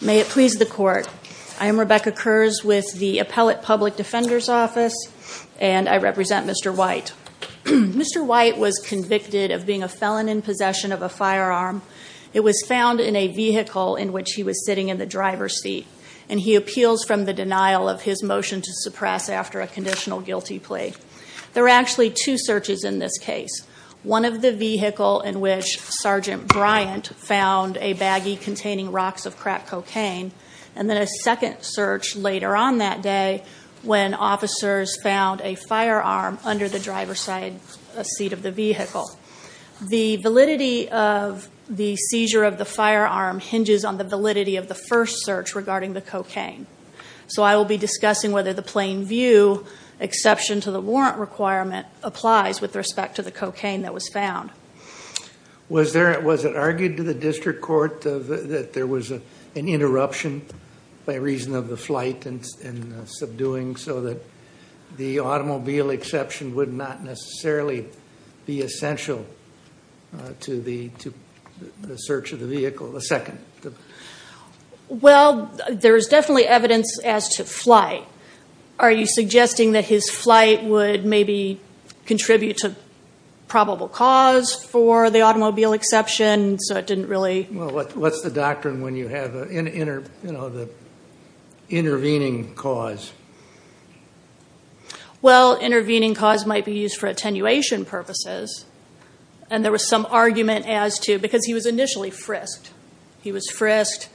May it please the court. I am Rebecca Kurz with the Appellate Public Defender's Office and I represent Mr. White. Mr. White was convicted of being a felon in possession of a firearm. It was found in a vehicle in which he was sitting in the driver's seat and he appeals from the denial of his motion to suppress after a conditional guilty plea. There are actually two searches in this case. One of the vehicle in which Sergeant Bryant found a baggie containing rocks of crack cocaine and then a second search later on that day when officers found a firearm under the driver's seat of the vehicle. The validity of the seizure of the firearm hinges on the validity of the first search regarding the cocaine. So I will be discussing whether the plain view exception to the warrant requirement applies with respect to the cocaine that was found. Was there, was it argued to the district court that there was an interruption by reason of the flight and subduing so that the automobile exception would not necessarily be essential to the search of the vehicle, the second? Well there's definitely evidence as to flight. Are you suggesting that his flight would maybe contribute to probable cause for the automobile exception so it didn't really? Well what's the doctrine when you have an inter, you know, the intervening cause? Well intervening cause might be used for attenuation purposes and there was some argument as to, because he was initially frisked. He was frisked.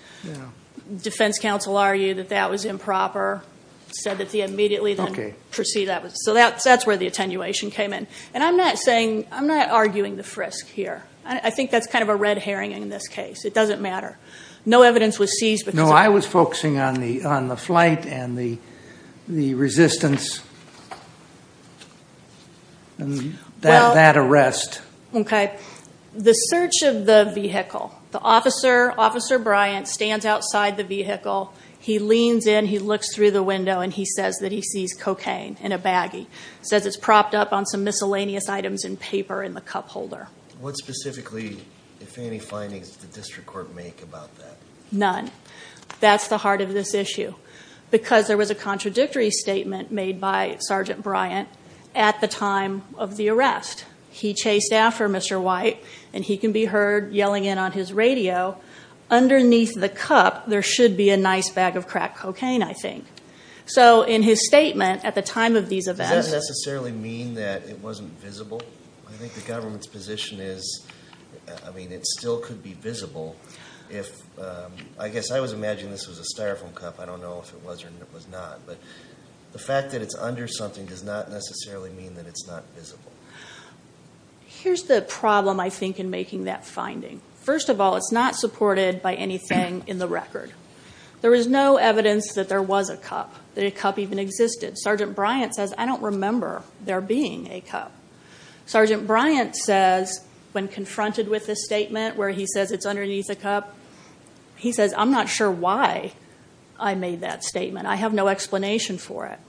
Defense counsel argued that that was improper. Said that the immediately then proceed, so that's where the attenuation came in. And I'm not saying, I'm not arguing the frisk here. I think that's kind of a red herring in this case. It doesn't matter. No evidence was seized. No I was focusing on the flight and the resistance and that arrest. Okay. The search of the vehicle. The officer, Officer Bryant, stands outside the vehicle. He leans in, he looks through the window and he says that he sees cocaine in a baggie. Says it's propped up on some miscellaneous items in paper in the cup holder. What specifically, if any, findings did the district court make about that? None. That's the heart of this issue because there was a contradictory statement made by Sergeant Bryant at the time of the arrest. He's a staffer, Mr. White, and he can be heard yelling in on his radio, underneath the cup there should be a nice bag of crack cocaine, I think. So in his statement at the time of these events. Does that necessarily mean that it wasn't visible? I think the government's position is, I mean it still could be visible if, I guess I was imagining this was a styrofoam cup. I don't know if it was or if it was not. But the fact that it's under something does not necessarily mean that it's not visible. Here's the problem, I think, in making that finding. First of all, it's not supported by anything in the record. There is no evidence that there was a cup, that a cup even existed. Sergeant Bryant says, I don't remember there being a cup. Sergeant Bryant says, when confronted with this statement where he says it's underneath a cup, he says, I'm not sure why I made that statement. I have no explanation for it.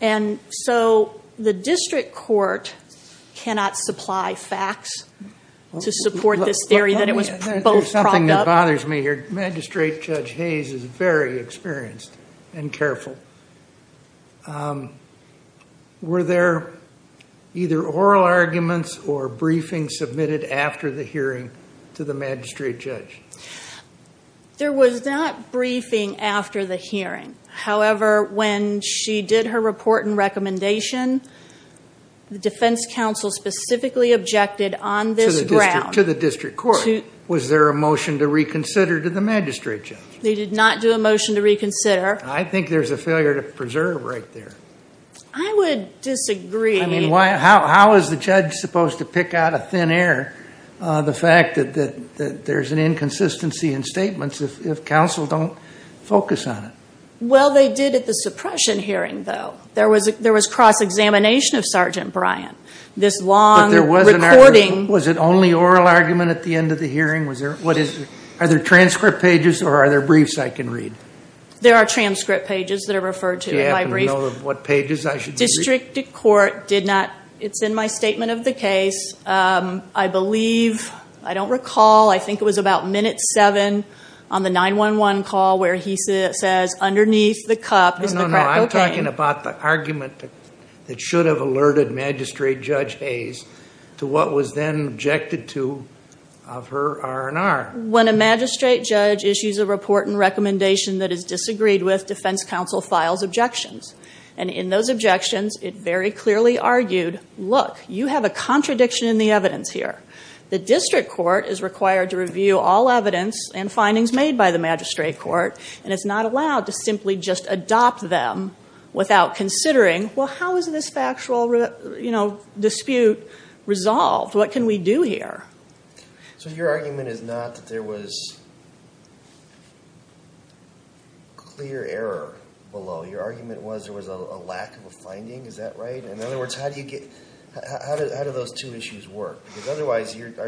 And so the district court cannot supply facts to support this theory that it was both propped up. There's something that bothers me here. Magistrate Judge Hayes is very experienced and careful. Were there either oral arguments or briefings submitted after the hearing to the magistrate judge? There was not briefing after the hearing. However, when she did her report and recommendation, the defense counsel specifically objected on this ground. To the district court. Was there a motion to reconsider to the magistrate judge? They did not do a motion to reconsider. I think there's a failure to preserve right there. I would disagree. How is the judge supposed to pick out of thin air the fact that there's an inconsistency in statements if counsel don't focus on it? Well, they did at the suppression hearing though. There was cross-examination of Sergeant Bryant. This long recording. Was it only oral argument at the end of the hearing? Are there transcript pages or are there briefs I can read? There are transcript pages that are referred to. Do you happen to know what pages I should be reading? District court did not. It's in my statement of the case. I believe, I don't recall, I think it was about minute seven on the 911 call where he says underneath the cup is the crack cocaine. I'm talking about the argument that should have alerted magistrate judge Hayes to what was then objected to of her R&R. When a magistrate judge issues a report and recommendation that is disagreed with, defense counsel files objections. And in those objections, it very clearly argued, look, you have a contradiction in the evidence here. The district court is required to review all evidence and findings made by the magistrate court and is not allowed to simply just adopt them without considering, well, how is this factual dispute resolved? What can we do here? So your argument is not that there was clear error below. Your argument was there was a lack of a finding. Is that right? In other words, our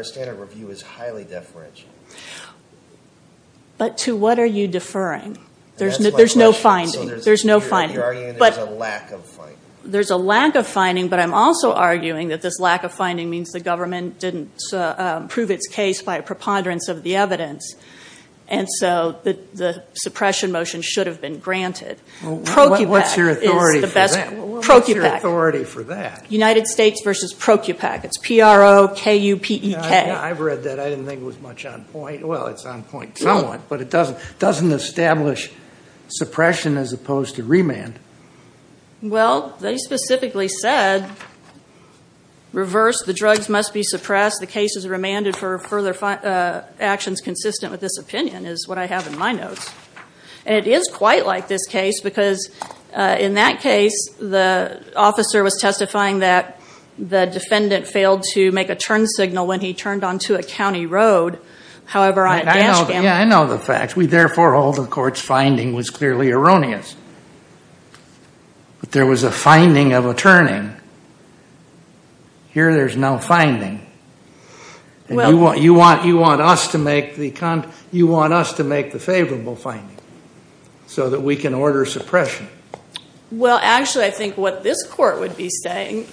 standard review is highly deferential. But to what are you deferring? There's no finding. There's no finding. You're arguing there's a lack of finding. There's a lack of finding, but I'm also arguing that this lack of finding means the government didn't prove its case by a preponderance of the evidence. And so the suppression motion should have been granted. What's your authority for that? United States versus ProCupac. It's PRO, KB, K-U-P-E-K. I've read that. I didn't think it was much on point. Well, it's on point somewhat, but it doesn't establish suppression as opposed to remand. Well, they specifically said reverse. The drugs must be suppressed. The case is remanded for further actions consistent with this opinion is what I have in my notes. And it is quite like this case because in that case, the officer was testifying that the defendant failed to make a turn signal when he turned onto a county road. However, on a dash cam. Yeah, I know the facts. We therefore hold the court's finding was clearly erroneous. But there was a finding of a turning. Here there's no finding. And you want us to make the favorable finding so that we can Well, actually, I think what this court would be saying,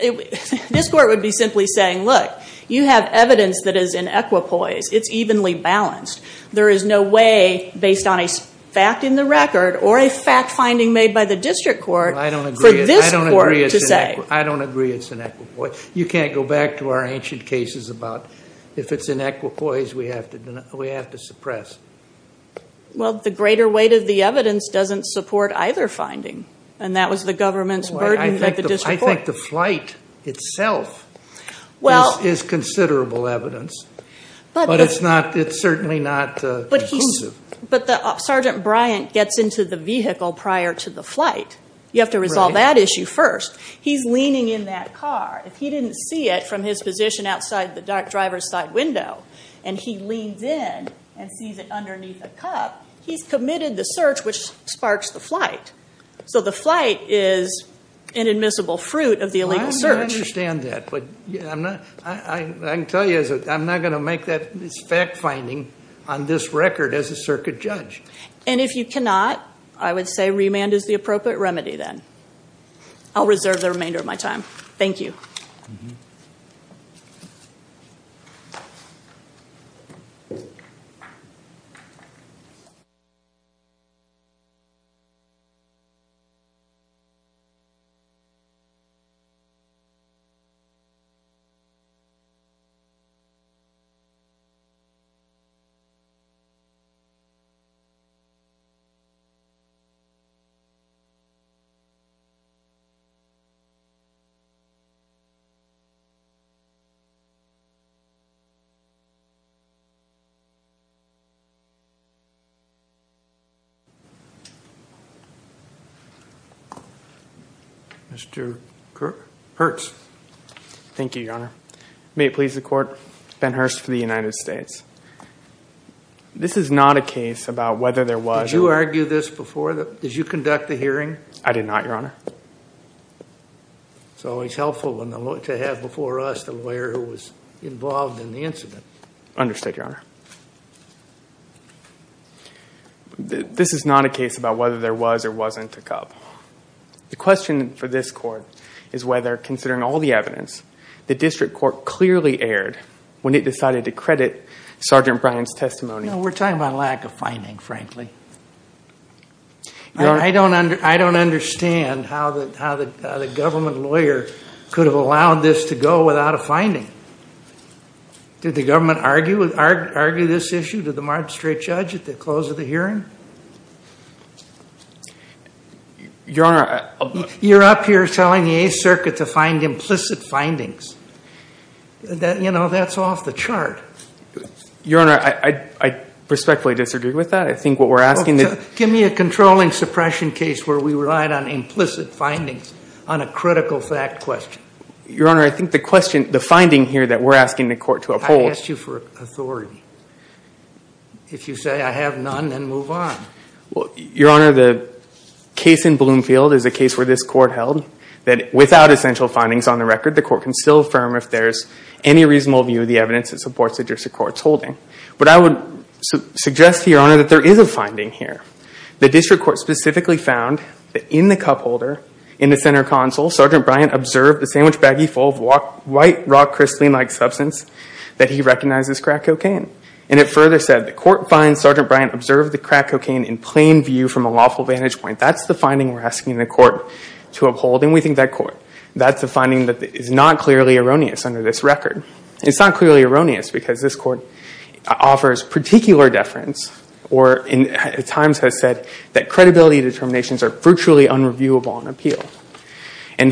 this court would be simply saying, look, you have evidence that is in equipoise. It's evenly balanced. There is no way based on a fact in the record or a fact finding made by the district court for this court to say. I don't agree it's in equipoise. You can't go back to our ancient cases about if it's in equipoise, we have to suppress. Well, the greater weight of the evidence doesn't support either finding. And that was the government's burden. I think the flight itself is considerable evidence. But it's certainly not conclusive. But Sergeant Bryant gets into the vehicle prior to the flight. You have to resolve that issue first. He's leaning in that car. If he didn't see it from his position outside the driver's side window and he leans in and sees it underneath a cup, he's committed the search, which sparks the flight. So the flight is an admissible fruit of the illegal search. I understand that. But I can tell you, I'm not going to make that fact finding on this record as a circuit judge. And if you cannot, I would say remand is the appropriate remedy then. I'll reserve the remainder of my time. Thank you. Mr. Hurts. Thank you, Your Honor. May it please the court, Ben Hurst for the United States. This is not a case about whether there was a- Did you argue this before? Did you conduct the hearing? I did not, Your Honor. It's always helpful to have before us the Understood, Your Honor. This is not a case about whether there was or wasn't a cup. The question for this court is whether, considering all the evidence, the district court clearly erred when it decided to credit Sergeant Bryant's testimony. No, we're talking about lack of finding, frankly. I don't understand how the government lawyer could have allowed this to go without a finding. Did the government argue this issue? Did the magistrate judge at the close of the hearing? You're up here telling the Eighth Circuit to find implicit findings. That's off the chart. Your Honor, I respectfully disagree with that. I think what we're asking- Give me a controlling suppression case where we relied on implicit findings on a critical fact question. Your Honor, I think the finding here that we're asking the court to uphold- I asked you for authority. If you say I have none, then move on. Your Honor, the case in Bloomfield is a case where this court held that without essential findings on the record, the court can still affirm if there's any reasonable view of the evidence that supports the district court's holding. I would suggest to Your Honor that there is a finding here. The district court specifically found that in the cup holder, in the center console, Sergeant Bryant observed the sandwich baggie full of white, rock-crystalline-like substance that he recognized as crack cocaine. It further said, the court finds Sergeant Bryant observed the crack cocaine in plain view from a lawful vantage point. That's the finding we're asking the court to uphold. We think that's a finding that is not clearly erroneous under this record. It's not clearly virtually unreviewable on appeal.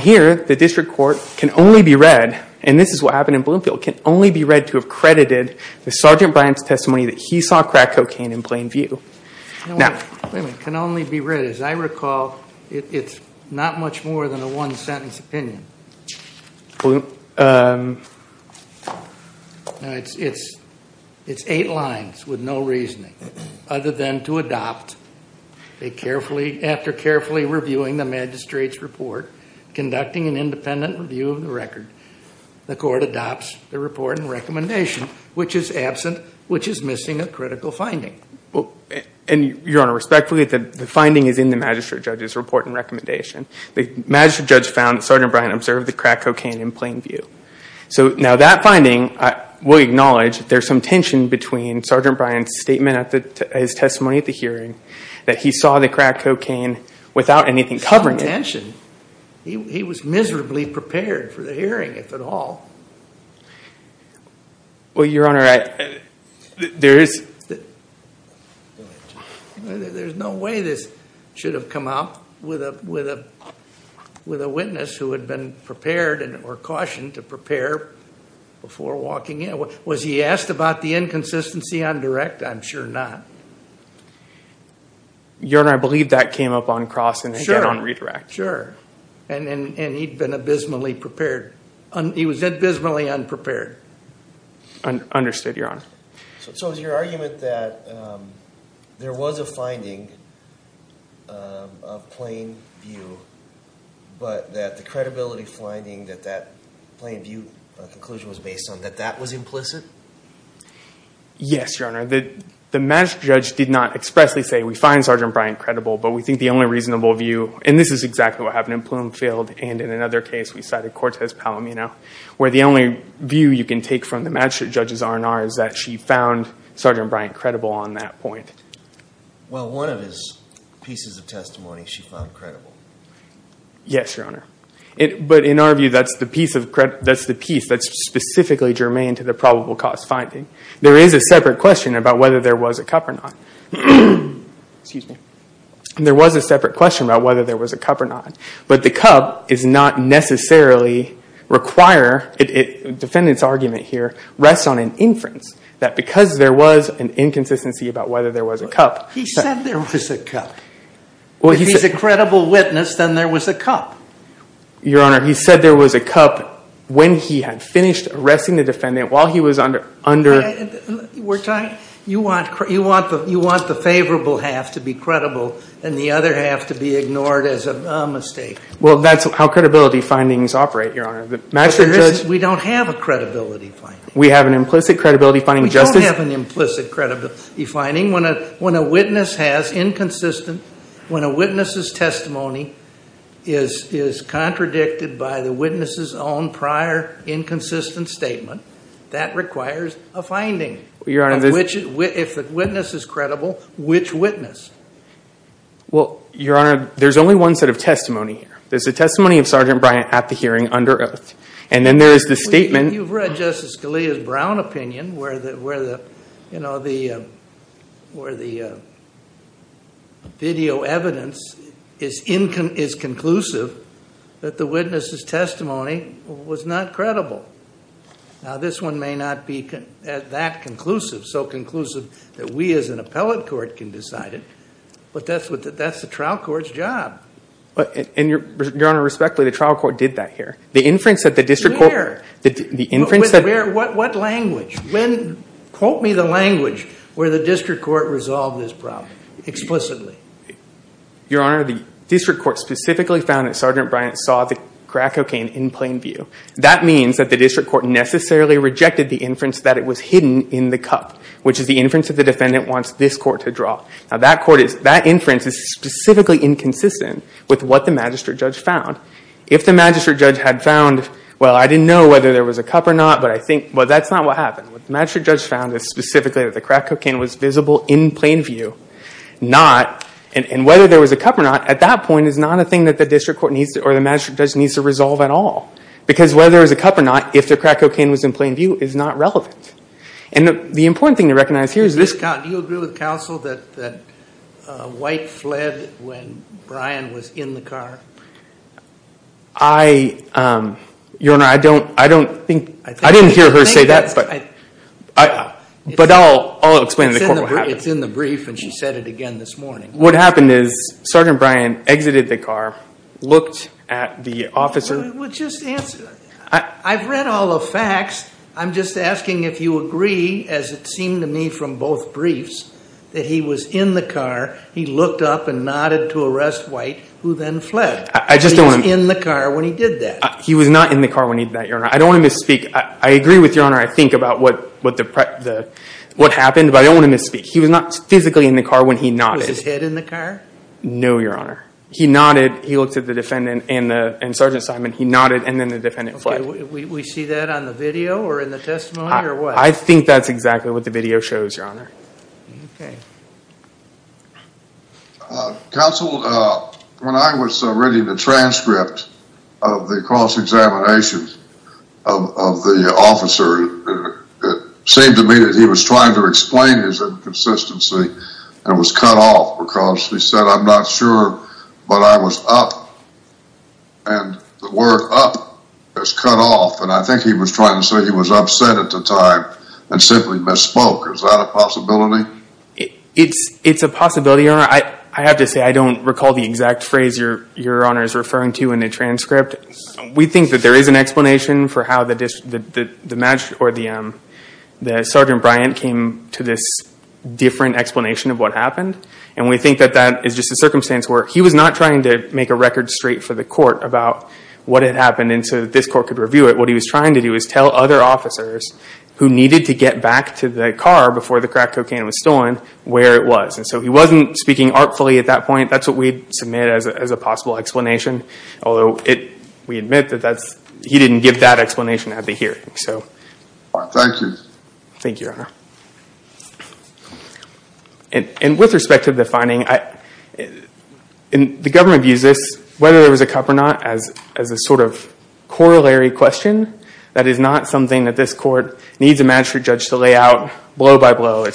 Here, the district court can only be read, and this is what happened in Bloomfield, can only be read to have credited the Sergeant Bryant's testimony that he saw crack cocaine in plain view. Wait a minute. Can only be read? As I recall, it's not much more than a one-sentence opinion. It's eight lines with no reasoning other than to adopt a carefully, after carefully reviewing the magistrate's report, conducting an independent review of the record, the court adopts the report and recommendation, which is absent, which is missing a critical finding. Your Honor, respectfully, the finding is in the magistrate judge's report and recommendation. The magistrate judge found that Sergeant Bryant observed the crack cocaine in plain view. That finding, we acknowledge, there's some tension between Sergeant Bryant's statement at his testimony at the hearing, that he saw the crack cocaine without anything covering it. There's some tension. He was miserably prepared for the hearing, if at all. Well, Your Honor, there is... There's no way this should have come up with a witness who had been prepared or cautioned to prepare before walking in. Was he asked about the inconsistency on direct? I'm sure not. Your Honor, I believe that came up on cross and again on redirect. Sure. And he'd been abysmally prepared. He was abysmally unprepared. Understood, Your Honor. So is your argument that there was a finding of plain view, but that the credibility finding that that plain view conclusion was based on, that that was implicit? Yes, Your Honor. The magistrate judge did not expressly say, we find Sergeant Bryant credible, but we think the only reasonable view... and this is exactly what happened in Bloomfield and in another case, we cited Cortez Palomino, where the only view you can take from the magistrate judge's R&R is that she found Sergeant Bryant credible on that point. Well, one of his pieces of testimony she found credible. Yes, Your Honor. But in our view, that's the piece that's specifically germane to the probable cause finding. There is a separate question about whether there was a cup or not. There was a separate question about whether there was a cup or not. But the cup does not necessarily require... the defendant's argument here rests on an inference that because there was an inconsistency about whether there was a cup... He said there was a cup. If he's a credible witness, then there was a cup. Your Honor, he said there was a cup when he had finished arresting the defendant, while he was under... You want the favorable half to be credible and the other half to be ignored as a mistake. Well, that's how credibility findings operate, Your Honor. We don't have a credibility finding. We have an implicit credibility finding. We don't have an implicit credibility finding. When a witness has inconsistent... when a witness's testimony is contradicted by the witness's own prior inconsistent statement, that requires a finding. Your Honor... If the witness is credible, which witness? Well, Your Honor, there's only one set of testimony here. There's the testimony of Sergeant Bryant at the hearing, under oath. And then there's the statement... You've read Justice Scalia's Brown opinion where the... video evidence is conclusive that the witness's testimony was not credible. Now, this one may not be that conclusive, so conclusive that we as an appellate court can decide it. But that's the trial court's job. Your Honor, respectfully, the trial court did that here. The inference that the district court... Where? The inference that... What language? Quote me the language where the district court resolved this problem, explicitly. Your Honor, the district court specifically found that Sergeant Bryant saw the crack cocaine in plain view. That means that the district court necessarily rejected the inference that it was hidden in the cup, which is the inference that the defendant wants this court to draw. Now, that court is... that inference is specifically inconsistent with what the magistrate judge found. If the magistrate judge had found, well, I didn't know whether there was a cup or not, but I think... Well, that's not what happened. What the magistrate judge found is specifically that the crack cocaine was visible in plain view, not... And whether there was a cup or not, at that point, is not a thing that the district court needs to... or the magistrate judge needs to resolve at all. Because whether there was a cup or not, if the crack cocaine was in plain view, is not relevant. And the important thing to recognize here is this... Do you agree with counsel that White fled when Bryant was in the car? I... Your Honor, I don't... I don't think... I didn't hear her say that, but... I... I... But I'll... I'll explain to the court what happened. It's in the brief, and she said it again this morning. What happened is, Sergeant Bryant exited the car, looked at the officer... Well, just answer... I've read all the facts. I'm just asking if you agree, as it seemed to me from both briefs, that he was in the car. He looked up and nodded to arrest White, who then fled. I just don't want to... He was in the car when he did that. He was not in the car when he did that, Your Honor. I don't want to misspeak. I agree with Your Honor, I think, about what... what the... the... what happened, but I don't want to misspeak. He was not physically in the car when he nodded. Was his head in the car? No, Your Honor. He nodded. He looked at the defendant and the... and Sergeant Simon. He nodded, and then the defendant fled. Okay. We see that on the video or in the testimony, or what? I think that's exactly what the video shows, Your Honor. Okay. Counsel, when I was reading the transcript of the cross-examination of the officer, it seemed to me that he was trying to explain his inconsistency and was cut off because he said, I'm not sure, but I was up, and the word up is cut off, and I think he was trying to say he was upset at the time and simply misspoke. Is that a possibility? It's a possibility, Your Honor. I have to say I don't recall the exact phrase Your Honor is referring to in the transcript. We think that there is an explanation for how the Sergeant Bryant came to this different explanation of what happened, and we think that that is just a circumstance where he was not trying to make a record straight for the court about what had happened so that this court could review it. What he was trying to do was tell other officers who needed to get back to the car before the crack cocaine was stolen where it was. So he wasn't speaking artfully at that point. That's what we'd submit as a possible explanation, although we admit that he didn't give that explanation at the hearing. Thank you. Thank you, Your Honor. With respect to the finding, the government views this, whether there was a cup or not, as a sort of corollary question. That is not something that this court needs a magistrate judge to lay out blow by blow.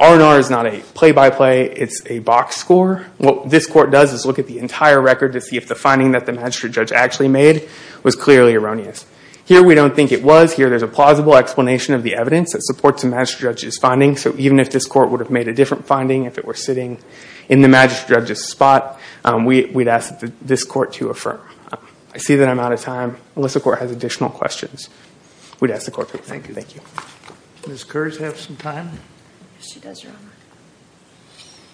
R&R is not a play-by-play. It's a box score. What this court does is look at the entire record to see if the finding that the magistrate judge actually made was clearly erroneous. Here we don't think it was. Here there's a plausible explanation of the evidence that supports the magistrate judge's finding. So even if this court would have made a different finding, if it were sitting in the magistrate judge's spot, we'd ask this court to affirm. I see that I'm out of time. Unless the court has additional questions, we'd ask the court to thank you. Thank you. Does Curtis have some time? Yes, she does, Your Honor.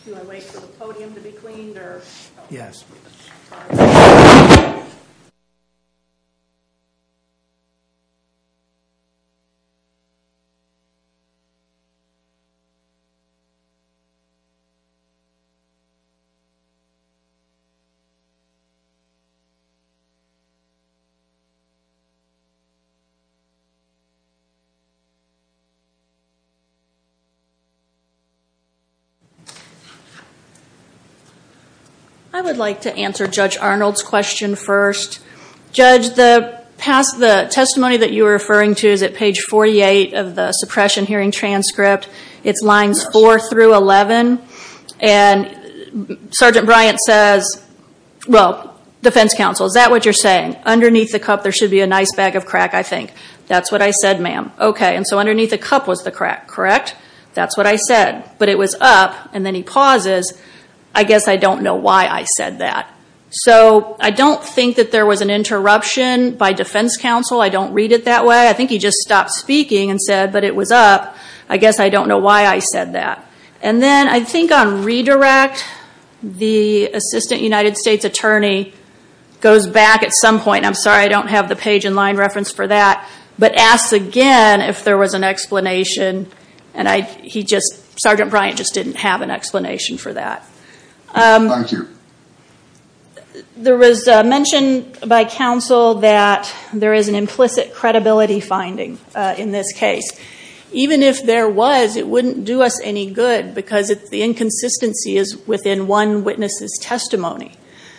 Do I wait for the podium to be cleaned? Yes. Thank you. I would like to answer Judge Arnold's question first. Judge, the testimony that you were referring to is at page 48 of the suppression hearing transcript. It's lines 4 through 11. And Sergeant Bryant says, well, defense counsel, is that what you're saying? Underneath the cup there should be a nice bag of crack, I think. That's what I said, ma'am. Okay, and so underneath the cup was the crack, correct? That's what I said. But it was up, and then he pauses. I guess I don't know why I said that. So I don't think that there was an interruption by defense counsel. I don't read it that way. I think he just stopped speaking and said, but it was up. I guess I don't know why I said that. And then I think on redirect, the assistant United States attorney goes back at some point. I'm sorry I don't have the page and line reference for that, but asks again if there was an explanation. And Sergeant Bryant just didn't have an explanation for that. Thank you. There was mention by counsel that there is an implicit credibility finding in this case. Even if there was, it wouldn't do us any good because the inconsistency is within one witness's testimony.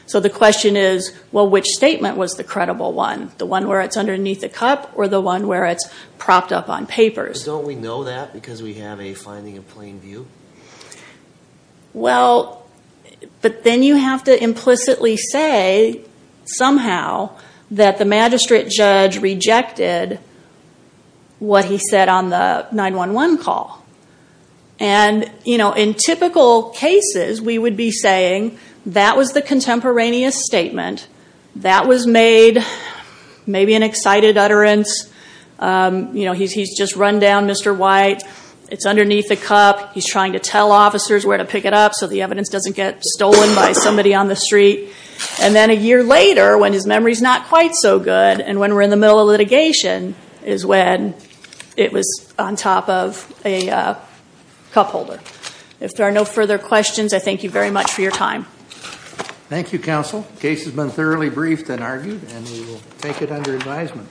So the question is, well, which statement was the credible one, the one where it's underneath the cup or the one where it's propped up on papers? Don't we know that because we have a finding of plain view? Well, but then you have to implicitly say somehow that the magistrate judge rejected what he said on the 911 call. And in typical cases, we would be saying that was the contemporaneous statement. That was made maybe in excited utterance. He's just run down Mr. White. It's underneath the cup. He's trying to tell officers where to pick it up so the evidence doesn't get stolen by somebody on the street. And then a year later, when his memory's not quite so good, and when we're in the middle of litigation is when it was on top of a cup holder. If there are no further questions, I thank you very much for your time. Thank you, counsel. The case has been thoroughly briefed and argued, and we will take it under advisement.